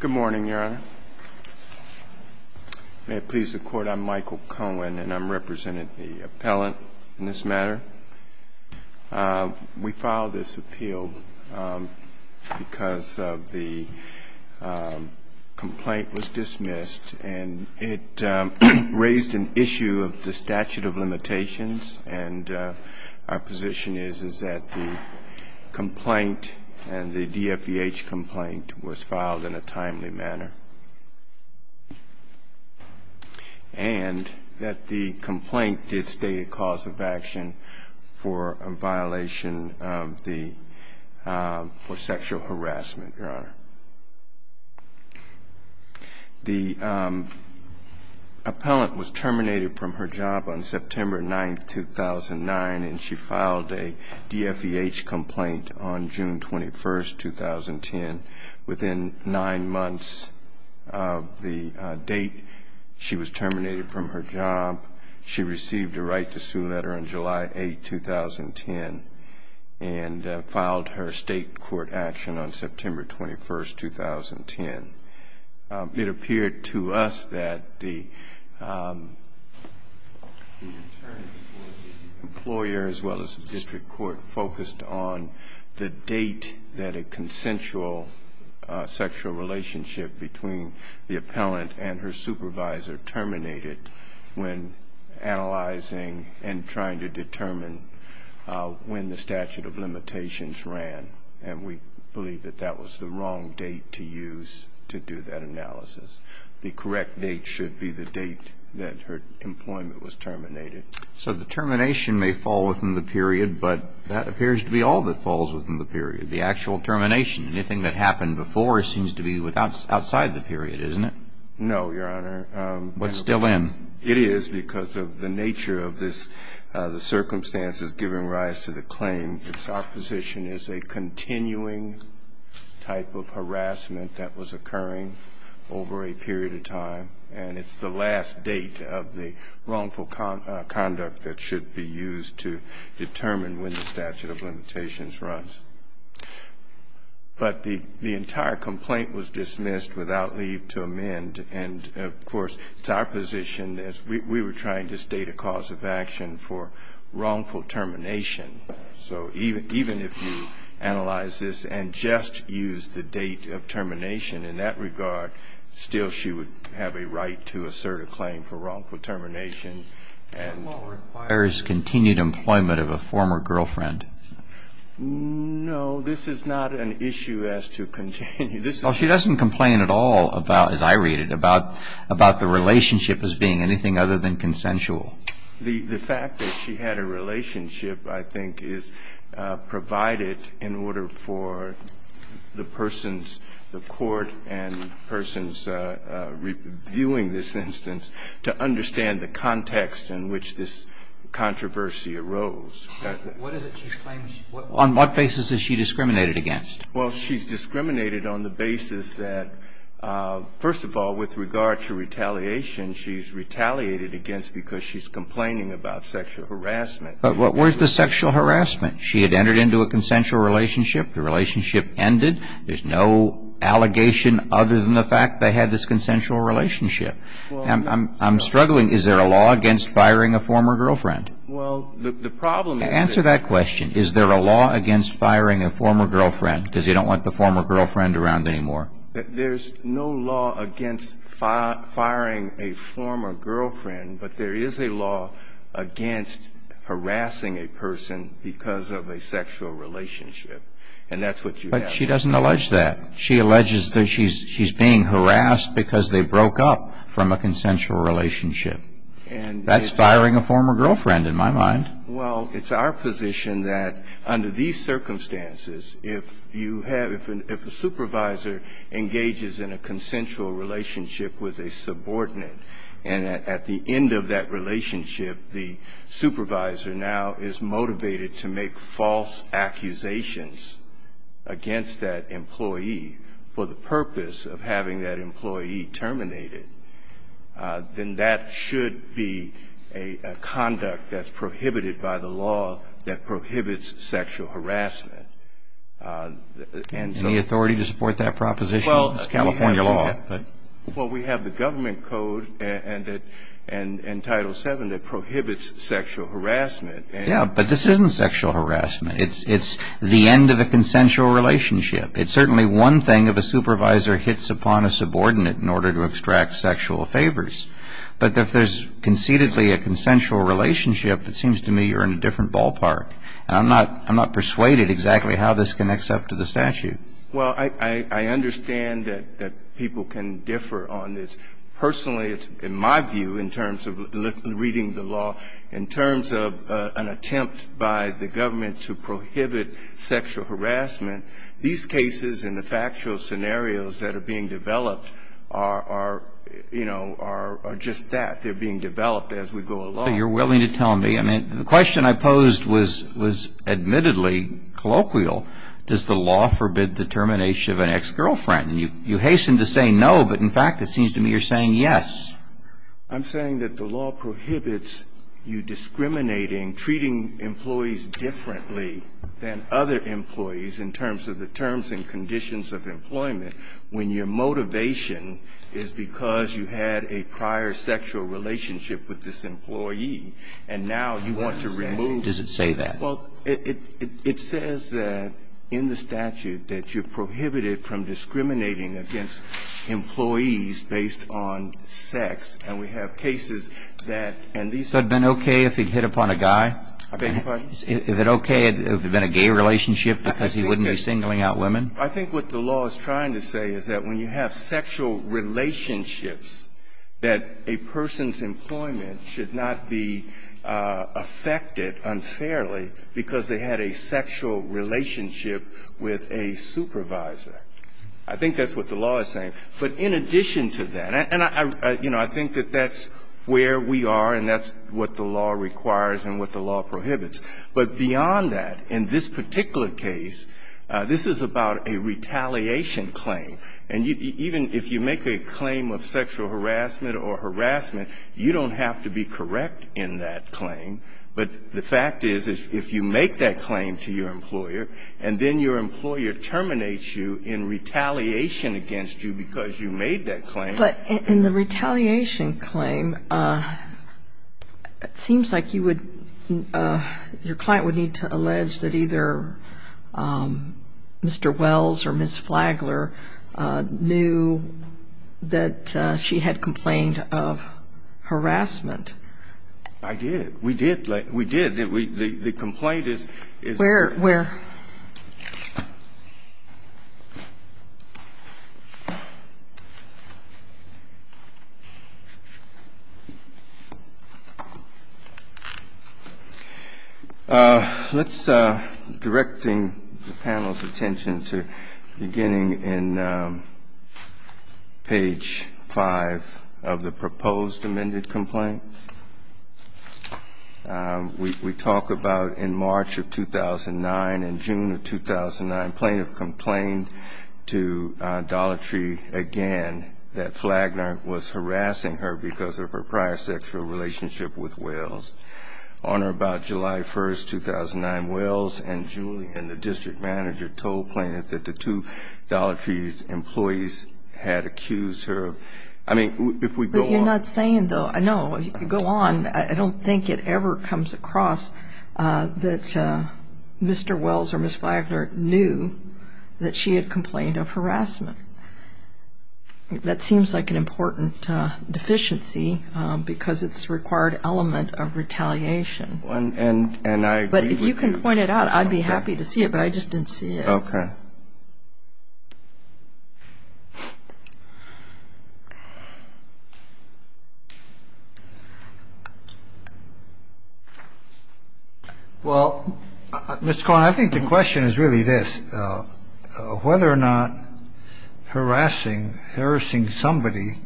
Good morning, Your Honor. May it please the Court, I'm Michael Cohen and I'm representing the appellant in this matter. We filed this appeal because the complaint was dismissed and it raised an issue of the statute of limitations. And our position is, is that the complaint and the DFVH complaint was filed in a timely manner. And that the complaint did state a cause of action for a violation of the, for sexual harassment, Your Honor. The appellant was terminated from her job on September 9, 2009 and she filed a DFVH complaint on June 21, 2010. Within nine months of the date she was terminated from her job, she received a right to sue letter on July 8, 2010 and filed her state court action on September 21, 2010. It appeared to us that the attorneys for the employer, as well as the district court, focused on the date that a consensual sexual relationship between the appellant and her supervisor terminated when analyzing and trying to determine when the statute of limitations ran. And we believe that that was the wrong date to use to do that analysis. The correct date should be the date that her employment was terminated. So the termination may fall within the period, but that appears to be all that falls within the period, the actual termination. Anything that happened before seems to be outside the period, isn't it? No, Your Honor. What's still in? It is because of the nature of this, the circumstances giving rise to the claim. Its opposition is a continuing type of harassment that was occurring over a period of time, and it's the last date of the wrongful conduct that should be used to determine when the statute of limitations runs. But the entire complaint was dismissed without leave to amend. And, of course, it's our position, as we were trying to state a cause of action for wrongful termination. So even if you analyze this and just use the date of termination in that regard, still she would have a right to assert a claim for wrongful termination. And what requires continued employment of a former girlfriend? No, this is not an issue as to continued. Well, she doesn't complain at all about, as I read it, about the relationship as being anything other than consensual. The fact that she had a relationship, I think, is provided in order for the persons, the court and persons reviewing this instance, to understand the context in which this controversy arose. What is it she's claiming? On what basis is she discriminated against? Well, she's discriminated on the basis that, first of all, with regard to retaliation, she's retaliated against because she's complaining about sexual harassment. But where's the sexual harassment? She had entered into a consensual relationship. The relationship ended. There's no allegation other than the fact they had this consensual relationship. I'm struggling. Is there a law against firing a former girlfriend? Well, the problem is that there's no law against firing a former girlfriend, because you don't want the former girlfriend around anymore. There's no law against firing a former girlfriend, but there is a law against harassing a person because of a sexual relationship. And that's what you have. But she doesn't allege that. She alleges that she's being harassed because they broke up from a consensual relationship. That's firing a former girlfriend, in my mind. Well, it's our position that under these circumstances, if you have the supervisor engages in a consensual relationship with a subordinate, and at the end of that relationship, the supervisor now is motivated to make false accusations against that employee for the purpose of having that employee terminated, then that should be a conduct that's prohibited by the law that prohibits sexual harassment. And the authority to support that proposition is California law. Well, we have the government code and Title VII that prohibits sexual harassment. Yeah, but this isn't sexual harassment. It's the end of a consensual relationship. It's certainly one thing if a supervisor hits upon a subordinate in order to extract sexual favors. But if there's concededly a consensual relationship, it seems to me you're in a different ballpark. And I'm not persuaded exactly how this connects up to the statute. Well, I understand that people can differ on this. Personally, in my view, in terms of reading the law, in terms of an attempt by the government to prohibit sexual harassment, these cases and the factual scenarios that are being developed are, you know, are just that. They're being developed as we go along. You're willing to tell me. I mean, the question I posed was admittedly colloquial. Does the law forbid the termination of an ex-girlfriend? And you hasten to say no, but, in fact, it seems to me you're saying yes. I'm saying that the law prohibits you discriminating, treating employees differently than other employees in terms of the terms and conditions of employment when your motivation is because you had a prior sexual relationship with this employee. And now you want to remove. Does it say that? Well, it says that in the statute that you're prohibited from discriminating against employees based on sex. And we have cases that, and these are the cases. So it would have been okay if it hit upon a guy? I beg your pardon? If it okay if it had been a gay relationship because he wouldn't be singling out women? I think what the law is trying to say is that when you have sexual relationships that a person's employment should not be affected unfairly because they had a sexual relationship with a supervisor. I think that's what the law is saying. But in addition to that, and I, you know, I think that that's where we are and that's what the law requires and what the law prohibits. But beyond that, in this particular case, this is about a retaliation claim. And even if you make a claim of sexual harassment or harassment, you don't have to be correct in that claim. But the fact is, if you make that claim to your employer and then your employer terminates you in retaliation against you because you made that claim. But in the retaliation claim, it seems like you would, your client would need to allege that either Mr. Wells or Ms. Flagler knew that she had complained of harassment. I did. We did. We did. The complaint is. Where? Where? Let's, directing the panel's attention to beginning in page 5 of the proposed amended complaint, we talk about in March of 2009 and June of 2009, plaintiff complained to Dollar Tree again that Flagler was harassing her because of her prior sexual relationship with Wells. On or about July 1, 2009, Wells and Julian, the district manager, told plaintiff that the two Dollar Tree employees had accused her. I mean, if we go on. But you're not saying, though, I know, go on. I don't think it ever comes across that Mr. Wells or Ms. Flagler knew that she had complained of harassment. That seems like an important deficiency because it's a required element of retaliation. And I agree with you. But if you can point it out, I'd be happy to see it. But I just didn't see it. Okay. All right. Well, let's go on. I think the question is really this. Whether or not harassing, harassing somebody,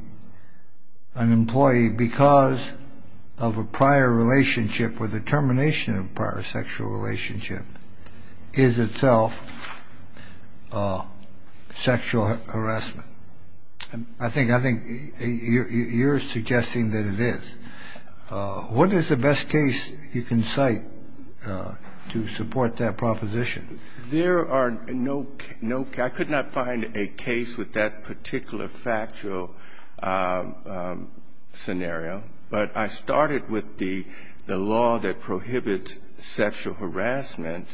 an employee, because of a prior relationship or the termination of a prior sexual relationship is itself sexual harassment. I think you're suggesting that it is. What is the best case you can cite to support that proposition? There are no, I could not find a case with that particular factual scenario. But I started with the law that prohibits sexual harassment,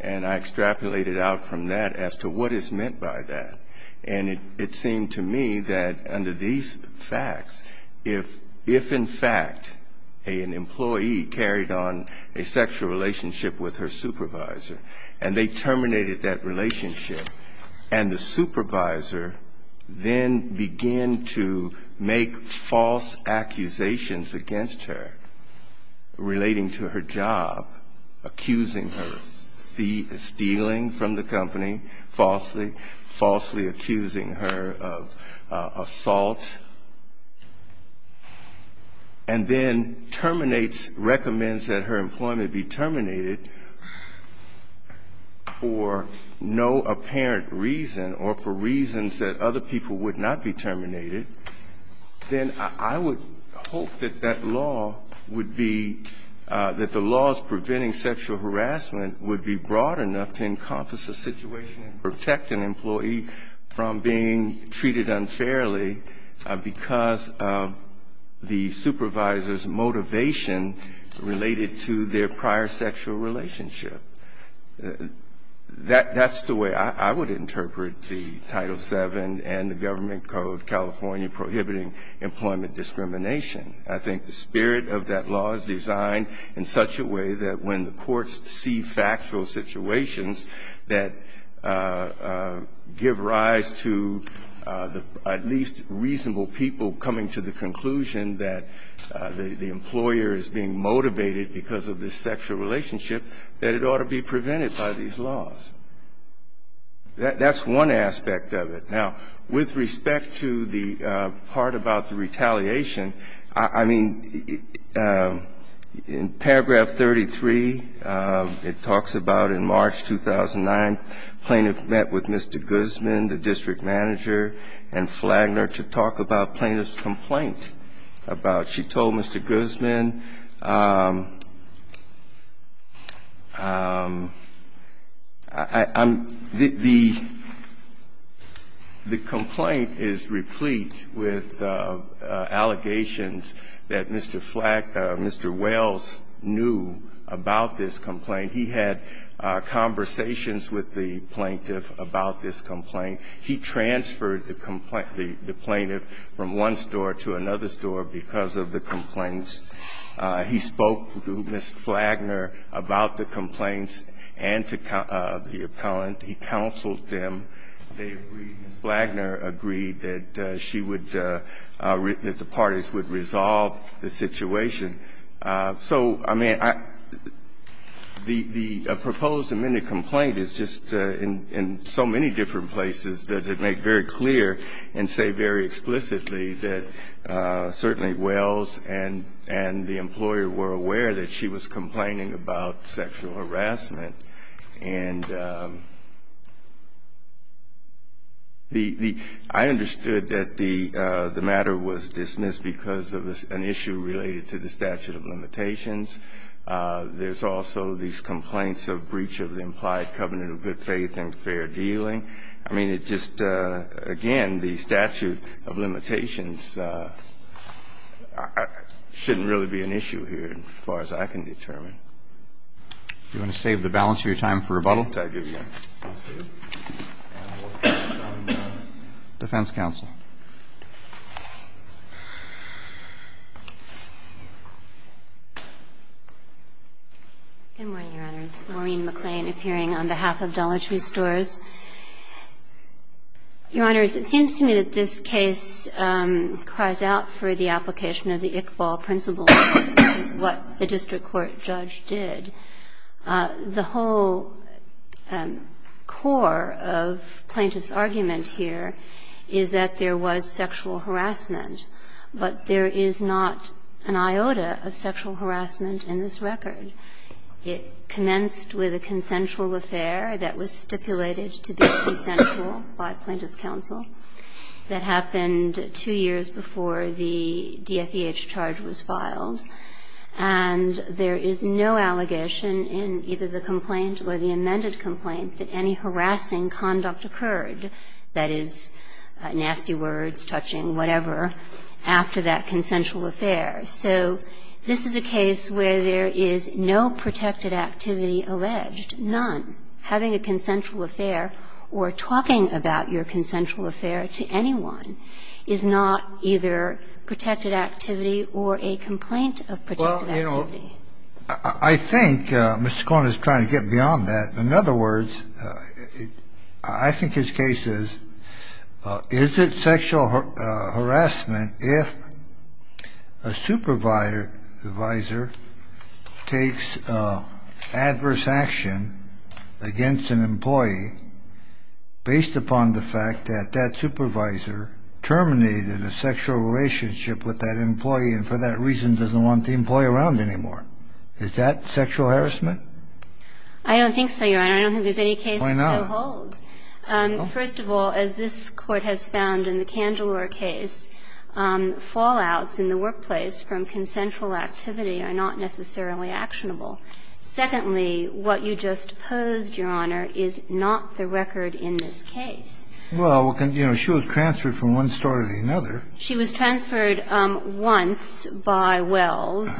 and I extrapolated out from that as to what is meant by that. And it seemed to me that under these facts, if in fact an employee carried on a sexual relationship with her supervisor and they terminated that relationship, and the supervisor then began to make false accusations against her relating to her job, accusing her of stealing from the company falsely, falsely accusing her of assault, and then terminates, recommends that her employment be terminated for no apparent reason or for reasons that other people would not be terminated, then I would hope that that law would be, that the laws preventing sexual harassment would be broad enough to encompass a situation and protect an employee from being treated unfairly because of the supervisor's motivation related to their prior sexual relationship. That's the way I would interpret the Title VII and the Government Code California prohibiting employment discrimination. I think the spirit of that law is designed in such a way that when the courts see factual situations that give rise to at least reasonable people coming to the conclusion that the employer is being motivated because of this sexual relationship, that it ought to be prevented by these laws. That's one aspect of it. Now, with respect to the part about the retaliation, I mean, in paragraph 33, it talks about in March 2009, plaintiff met with Mr. Guzman, the district manager, and Flagner to talk about plaintiff's complaint about. She told Mr. Guzman, I'm the, the complaint is replete with allegations that Mr. Flag, Mr. Wells knew about this complaint. He had conversations with the plaintiff about this complaint. He transferred the complaint, the plaintiff, from one store to another store because of the complaints. He spoke to Ms. Flagner about the complaints and to the appellant. He counseled them. They agreed, Ms. Flagner agreed that she would, that the parties would resolve the situation. So, I mean, the proposed amended complaint is just in so many different places does it make very clear and say very explicitly that certainly Wells and the employer were aware that she was complaining about sexual harassment. And the, the, I understood that the, the matter was dismissed because of an issue related to the statute of limitations. There's also these complaints of breach of the implied covenant of good faith and fair dealing. I mean, it just, again, the statute of limitations shouldn't really be an issue here as far as I can determine. Do you want to save the balance of your time for rebuttal? Defense counsel. Good morning, Your Honors. Maureen McClain appearing on behalf of Dollar Tree Stores. Your Honors, it seems to me that this case cries out for the application of the Iqbal principle, which is what the district court judge did. The whole core of Plaintiff's argument here is that there was sexual harassment, but there is not an iota of sexual harassment in this record. It commenced with a consensual affair that was stipulated to be consensual by Plaintiff's counsel that happened two years before the DFEH charge was filed. And there is no allegation in either the complaint or the amended complaint that any harassing conduct occurred, that is, nasty words, touching, whatever, after that consensual affair. So this is a case where there is no protected activity alleged, none. I think Mr. Korn is trying to get beyond that. In other words, I think his case is, is it sexual harassment if a supervisor against an employee based upon the fact that that supervisor terminated a sexual relationship with that employee and for that reason doesn't want the employee around anymore? Is that sexual harassment? I don't think so, Your Honor. I don't think there's any case that so holds. Why not? First of all, as this Court has found in the Candler case, fallouts in the workplace from consensual activity are not necessarily actionable. Secondly, what you just posed, Your Honor, is not the record in this case. Well, you know, she was transferred from one store to another. She was transferred once by Wells.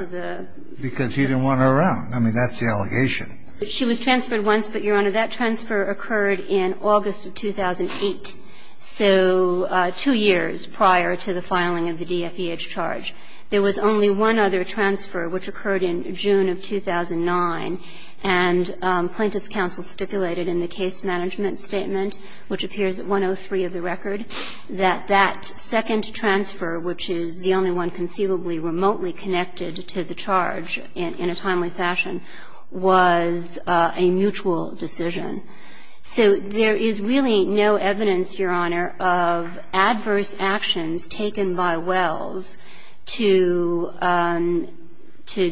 Because he didn't want her around. I mean, that's the allegation. She was transferred once, but, Your Honor, that transfer occurred in August of 2008, so two years prior to the filing of the DFEH charge. There was only one other transfer, which occurred in June of 2009, and plaintiff's counsel stipulated in the case management statement, which appears at 103 of the record, that that second transfer, which is the only one conceivably remotely connected to the charge in a timely fashion, was a mutual decision. So there is really no evidence, Your Honor, of adverse actions taken by Wells to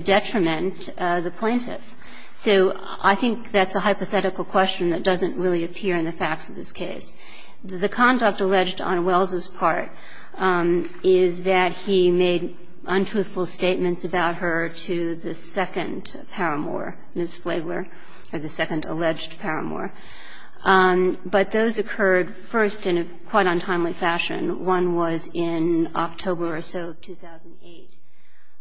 detriment the plaintiff. So I think that's a hypothetical question that doesn't really appear in the facts of this case. The conduct alleged on Wells's part is that he made untruthful statements about her to the second paramour, Ms. Flagler, or the second alleged paramour. But those occurred first in a quite untimely fashion. One was in October or so of 2008.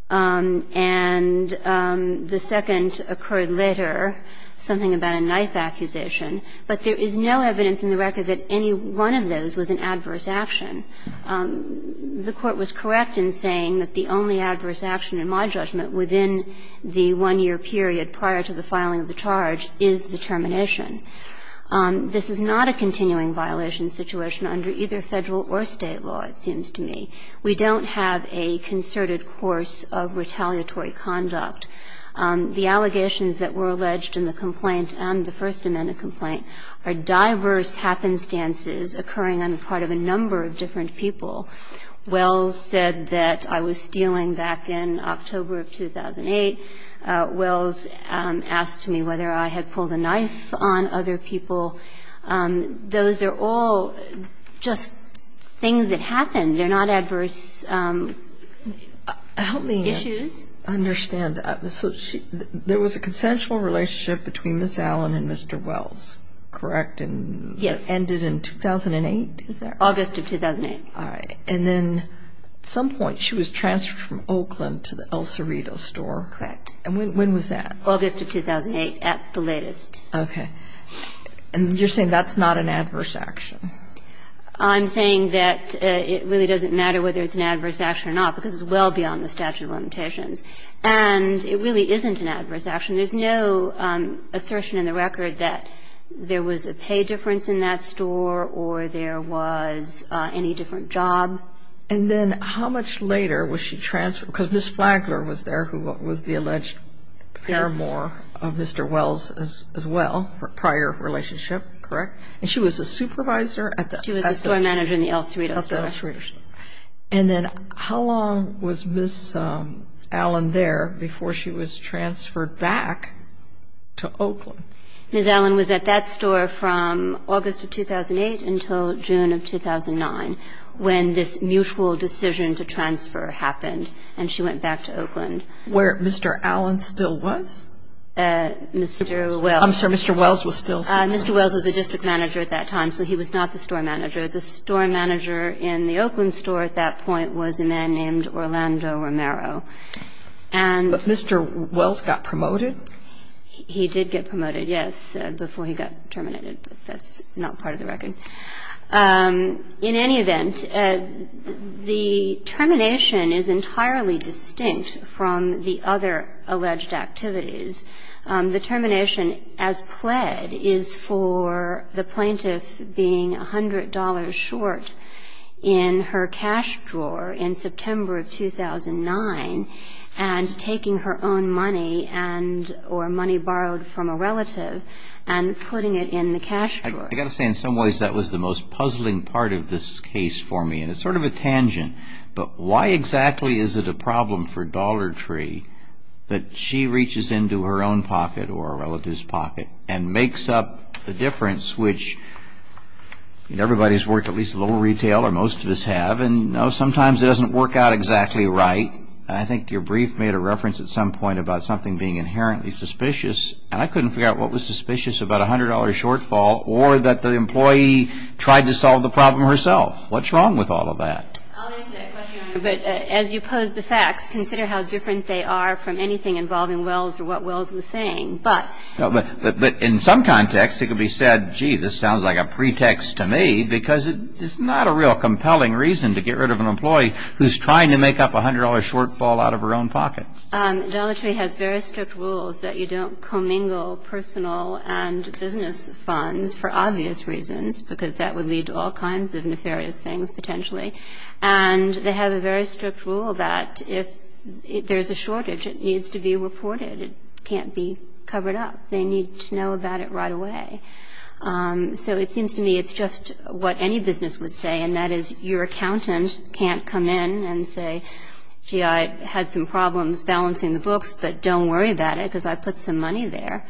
And the second occurred later, something about a knife accusation. But there is no evidence in the record that any one of those was an adverse action. The Court was correct in saying that the only adverse action in my judgment within the one-year period prior to the filing of the charge is the termination. This is not a continuing violation situation under either Federal or State law, it seems to me. We don't have a concerted course of retaliatory conduct. The allegations that were alleged in the complaint and the First Amendment complaint are diverse happenstances occurring on the part of a number of different people. Wells said that I was stealing back in October of 2008. Wells asked me whether I had pulled a knife on other people. Those are all just things that happened. They're not adverse issues. Help me understand. There was a consensual relationship between Ms. Allen and Mr. Wells, correct? Yes. And it ended in 2008? August of 2008. All right. And then at some point she was transferred from Oakland to the El Cerrito store? Correct. And when was that? August of 2008 at the latest. Okay. And you're saying that's not an adverse action? I'm saying that it really doesn't matter whether it's an adverse action or not, because it's well beyond the statute of limitations. And it really isn't an adverse action. There's no assertion in the record that there was a pay difference in that store or there was any different job. And then how much later was she transferred? Because Ms. Flagler was there, who was the alleged paramour of Mr. Wells as well, prior relationship, correct? And she was a supervisor at the El Cerrito store. She was a store manager in the El Cerrito store. And then how long was Ms. Allen there before she was transferred back to Oakland? Ms. Allen was at that store from August of 2008 until June of 2009, when this mutual decision to transfer happened, and she went back to Oakland. Where Mr. Allen still was? Mr. Wells. I'm sorry. Mr. Wells was still there. Mr. Wells was a district manager at that time, so he was not the store manager. The store manager in the Oakland store at that point was a man named Orlando Romero. And Mr. Wells got promoted? He did get promoted, yes, before he got terminated, but that's not part of the record. In any event, the termination is entirely distinct from the other alleged activities. The termination as pled is for the plaintiff being $100 short in her cash drawer in September of 2009 and taking her own money or money borrowed from a relative and putting it in the cash drawer. I've got to say, in some ways, that was the most puzzling part of this case for me, and it's sort of a tangent. But why exactly is it a problem for Dollar Tree that she reaches into her own pocket or a relative's pocket and makes up the difference, which everybody's worked at least a little retail, or most of us have, and sometimes it doesn't work out exactly right? I think your brief made a reference at some point about something being inherently suspicious, and I couldn't figure out what was suspicious about a $100 shortfall or that the employee tried to solve the problem herself. What's wrong with all of that? I'll answer that question, but as you pose the facts, consider how different they are from anything involving Wells or what Wells was saying. But in some context, it could be said, gee, this sounds like a pretext to me because it's not a real compelling reason to get rid of an employee who's trying to make up a $100 shortfall out of her own pocket. Dollar Tree has very strict rules that you don't commingle personal and business funds for obvious reasons because that would lead to all kinds of nefarious things, potentially. And they have a very strict rule that if there's a shortage, it needs to be reported. It can't be covered up. They need to know about it right away. So it seems to me it's just what any business would say, and that is your accountant can't come in and say, gee, I had some problems balancing the books, but don't worry about it because I put some money there.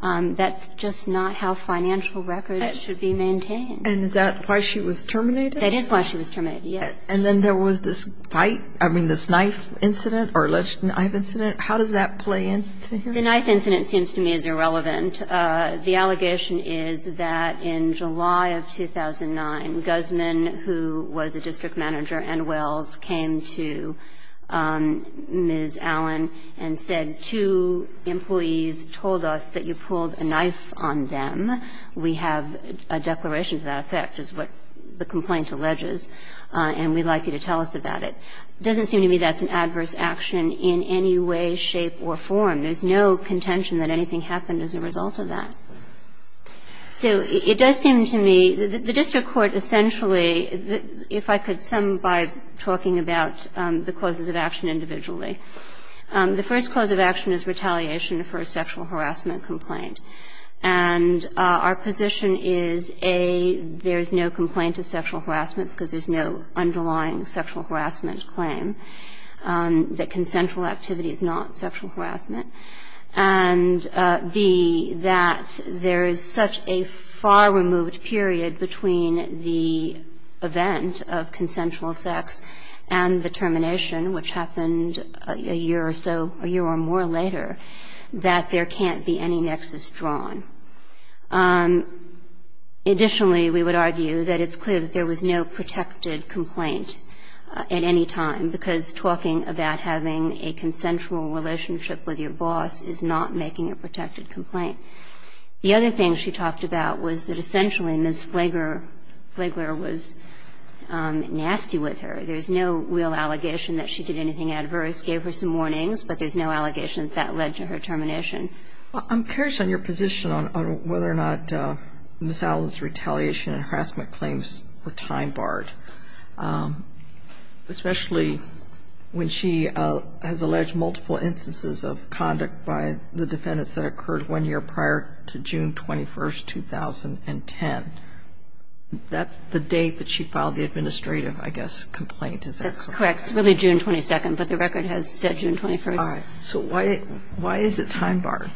That's just not how financial records should be maintained. And is that why she was terminated? That is why she was terminated, yes. And then there was this fight, I mean, this knife incident or alleged knife incident. How does that play into here? The knife incident seems to me is irrelevant. The allegation is that in July of 2009, Guzman, who was a district manager and Wells, came to Ms. Allen and said, two employees told us that you pulled a knife on them. We have a declaration to that effect, is what the complaint alleges, and we'd like you to tell us about it. It doesn't seem to me that's an adverse action in any way, shape or form. There's no contention that anything happened as a result of that. So it does seem to me that the district court essentially, if I could sum by talking about the causes of action individually, the first cause of action is retaliation for a sexual harassment complaint. And our position is, A, there's no complaint of sexual harassment because there's no underlying sexual harassment claim, that consensual activity is not sexual harassment, and B, that there is such a far removed period between the event of consensual sex and the termination, which happened a year or so, a year or more later, that there can't be any nexus drawn. Additionally, we would argue that it's clear that there was no protective complaint at any time, because talking about having a consensual relationship with your boss is not making a protected complaint. The other thing she talked about was that essentially Ms. Flagler was nasty with her. There's no real allegation that she did anything adverse, gave her some warnings, but there's no allegation that that led to her termination. Well, I'm curious on your position on whether or not Ms. Allen's retaliation and harassment claims were time-barred, especially when she has alleged multiple instances of conduct by the defendants that occurred one year prior to June 21, 2010. That's the date that she filed the administrative, I guess, complaint. Is that correct? That's correct. It's really June 22, but the record has said June 21. All right. So why is it time-barred?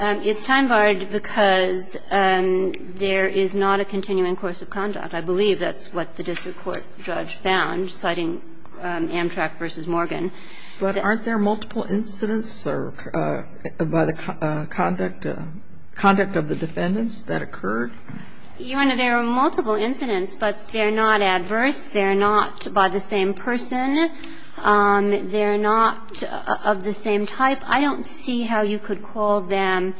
It's time-barred because there is not a continuing course of conduct. I believe that's what the district court judge found, citing Amtrak v. Morgan. But aren't there multiple incidents by the conduct of the defendants that occurred? Your Honor, there are multiple incidents, but they're not adverse. They're not by the same person. They're not of the same type. I don't see how you could call them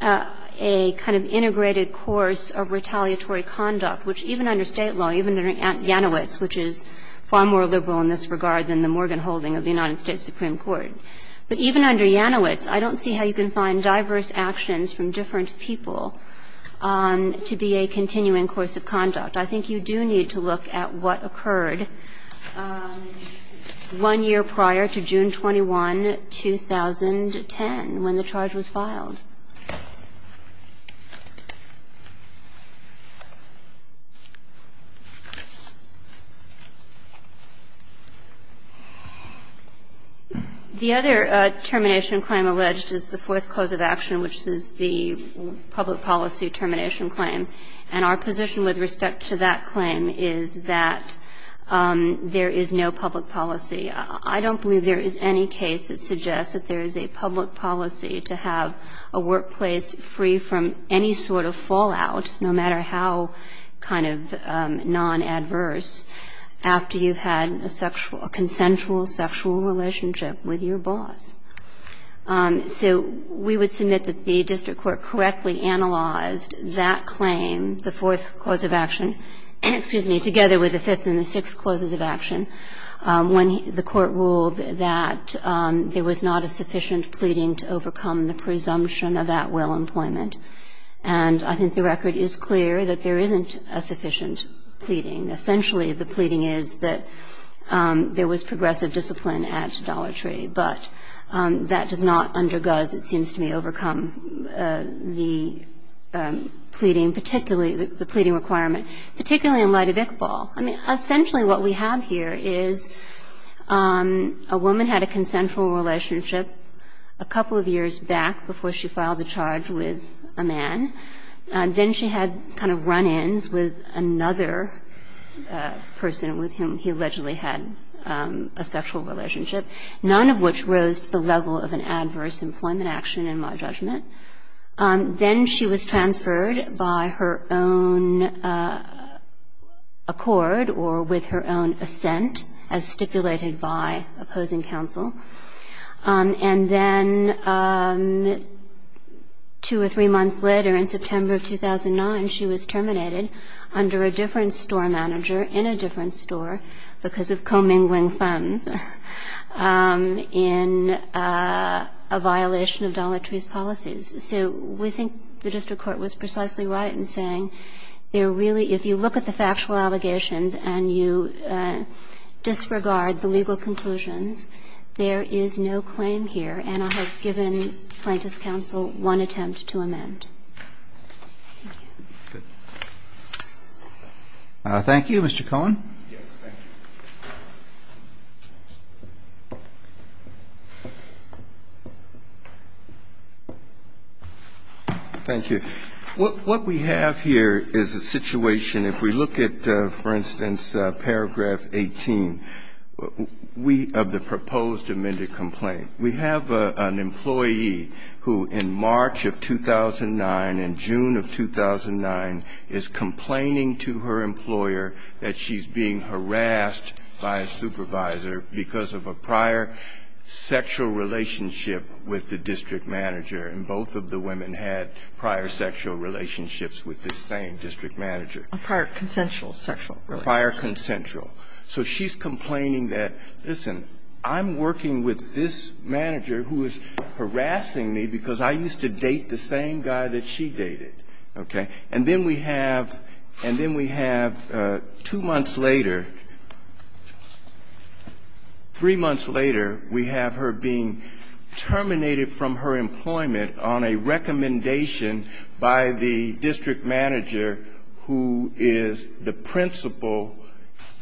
a kind of integrated course of retaliatory conduct, which even under State law, even under Yanowitz, which is far more liberal in this regard than the Morgan holding of the United States Supreme Court. But even under Yanowitz, I don't see how you can find diverse actions from different people to be a continuing course of conduct. I think you do need to look at what occurred one year prior to June 21, 2010, when the charge was filed. The other termination claim alleged is the fourth cause of action, which is the public policy termination claim. And our position with respect to that claim is that there is no public policy. I don't believe there is any case that suggests that there is a public policy to have a workplace free from any sort of fallout, no matter how kind of non-adverse, after you've had a sexual, consensual sexual relationship with your boss. So we would submit that the district court correctly analyzed that claim, the fourth cause of action, together with the fifth and the sixth causes of action, when the court ruled that there was not a sufficient pleading to overcome the presumption of at-will employment. And I think the record is clear that there isn't a sufficient pleading. Essentially, the pleading is that there was progressive discipline at Dollar Tree. But that does not undergoes, it seems to me, overcome the pleading, particularly the pleading requirement, particularly in light of Iqbal. I mean, essentially what we have here is a woman had a consensual relationship a couple of years back before she filed the charge with a man. Then she had kind of run-ins with another person with whom he allegedly had a sexual relationship. None of which rose to the level of an adverse employment action, in my judgment. Then she was transferred by her own accord or with her own assent, as stipulated by opposing counsel. And then two or three months later, in September of 2009, she was terminated under a different store manager in a different store because of commingling funds in a violation of Dollar Tree's policies. So we think the district court was precisely right in saying there really, if you look at the factual allegations and you disregard the legal conclusions, there is no claim here. And I have given plaintiff's counsel one attempt to amend. Thank you, Mr. Cohen. Yes. Thank you. Thank you. What we have here is a situation, if we look at, for instance, Paragraph 18 of the proposed amended complaint, we have an employee who in March of 2009 had a sexual relationship with a man. And in June of 2009, in June of 2009, is complaining to her employer that she's being harassed by a supervisor because of a prior sexual relationship with the district manager, and both of the women had prior sexual relationships with the same district manager. A prior consensual sexual relationship. Prior consensual. So she's complaining that, listen, I'm working with this manager who is harassing me because I used to date the same guy that she dated. Okay. And then we have, and then we have two months later, three months later, we have her being terminated from her employment on a recommendation by the district manager who is the principal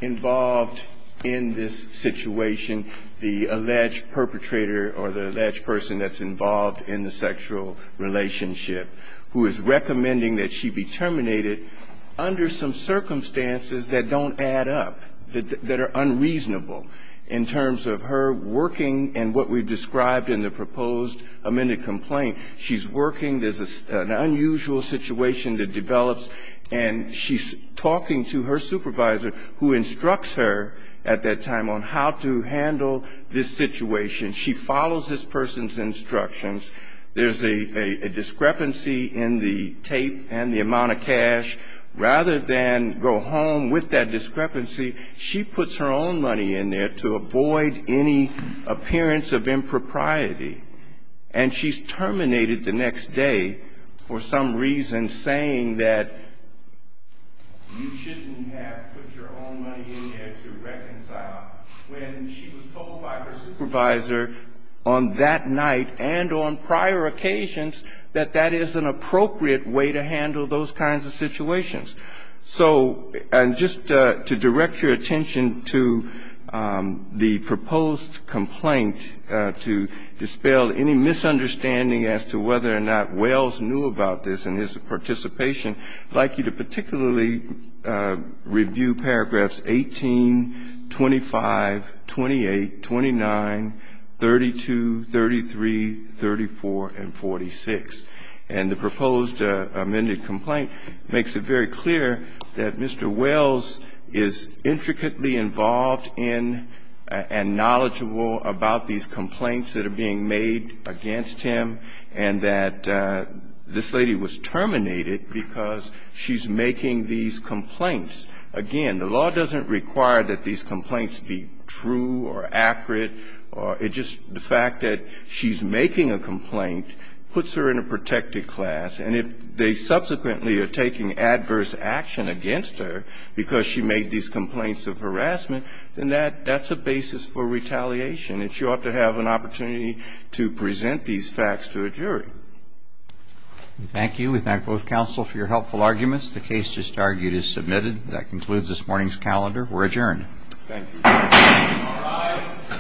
involved in this situation, the alleged perpetrator or the alleged person that's involved in the sexual relationship, who is recommending that she be terminated under some circumstances that don't add up, that are unreasonable in terms of her working and what we've described in the proposed amended complaint. She's working. There's an unusual situation that develops, and she's talking to her supervisor who instructs her at that time on how to handle this situation. She follows this person's instructions. There's a discrepancy in the tape and the amount of cash. Rather than go home with that discrepancy, she puts her own money in there to avoid any appearance of impropriety. And she's terminated the next day for some reason saying that you shouldn't have put your own money in there to reconcile. When she was told by her supervisor on that night and on prior occasions that that is an appropriate way to handle those kinds of situations. So just to direct your attention to the proposed complaint to dispel any misunderstanding as to whether or not Wells knew about this and his participation, I'd like you to look at page 325, 28, 29, 32, 33, 34, and 46, and the proposed amended complaint makes it very clear that Mr. Wells is intricately involved in and knowledgeable about these complaints that are being made against him and that this lady was terminated because she's making these complaints. Again, the law doesn't require that these complaints be true or accurate. It's just the fact that she's making a complaint puts her in a protected class. And if they subsequently are taking adverse action against her because she made these complaints of harassment, then that's a basis for retaliation. And she ought to have an opportunity to present these facts to a jury. Roberts. Thank you. We thank both counsel for your helpful arguments. The case just argued is submitted. That concludes this morning's calendar. We're adjourned. Thank you. All rise.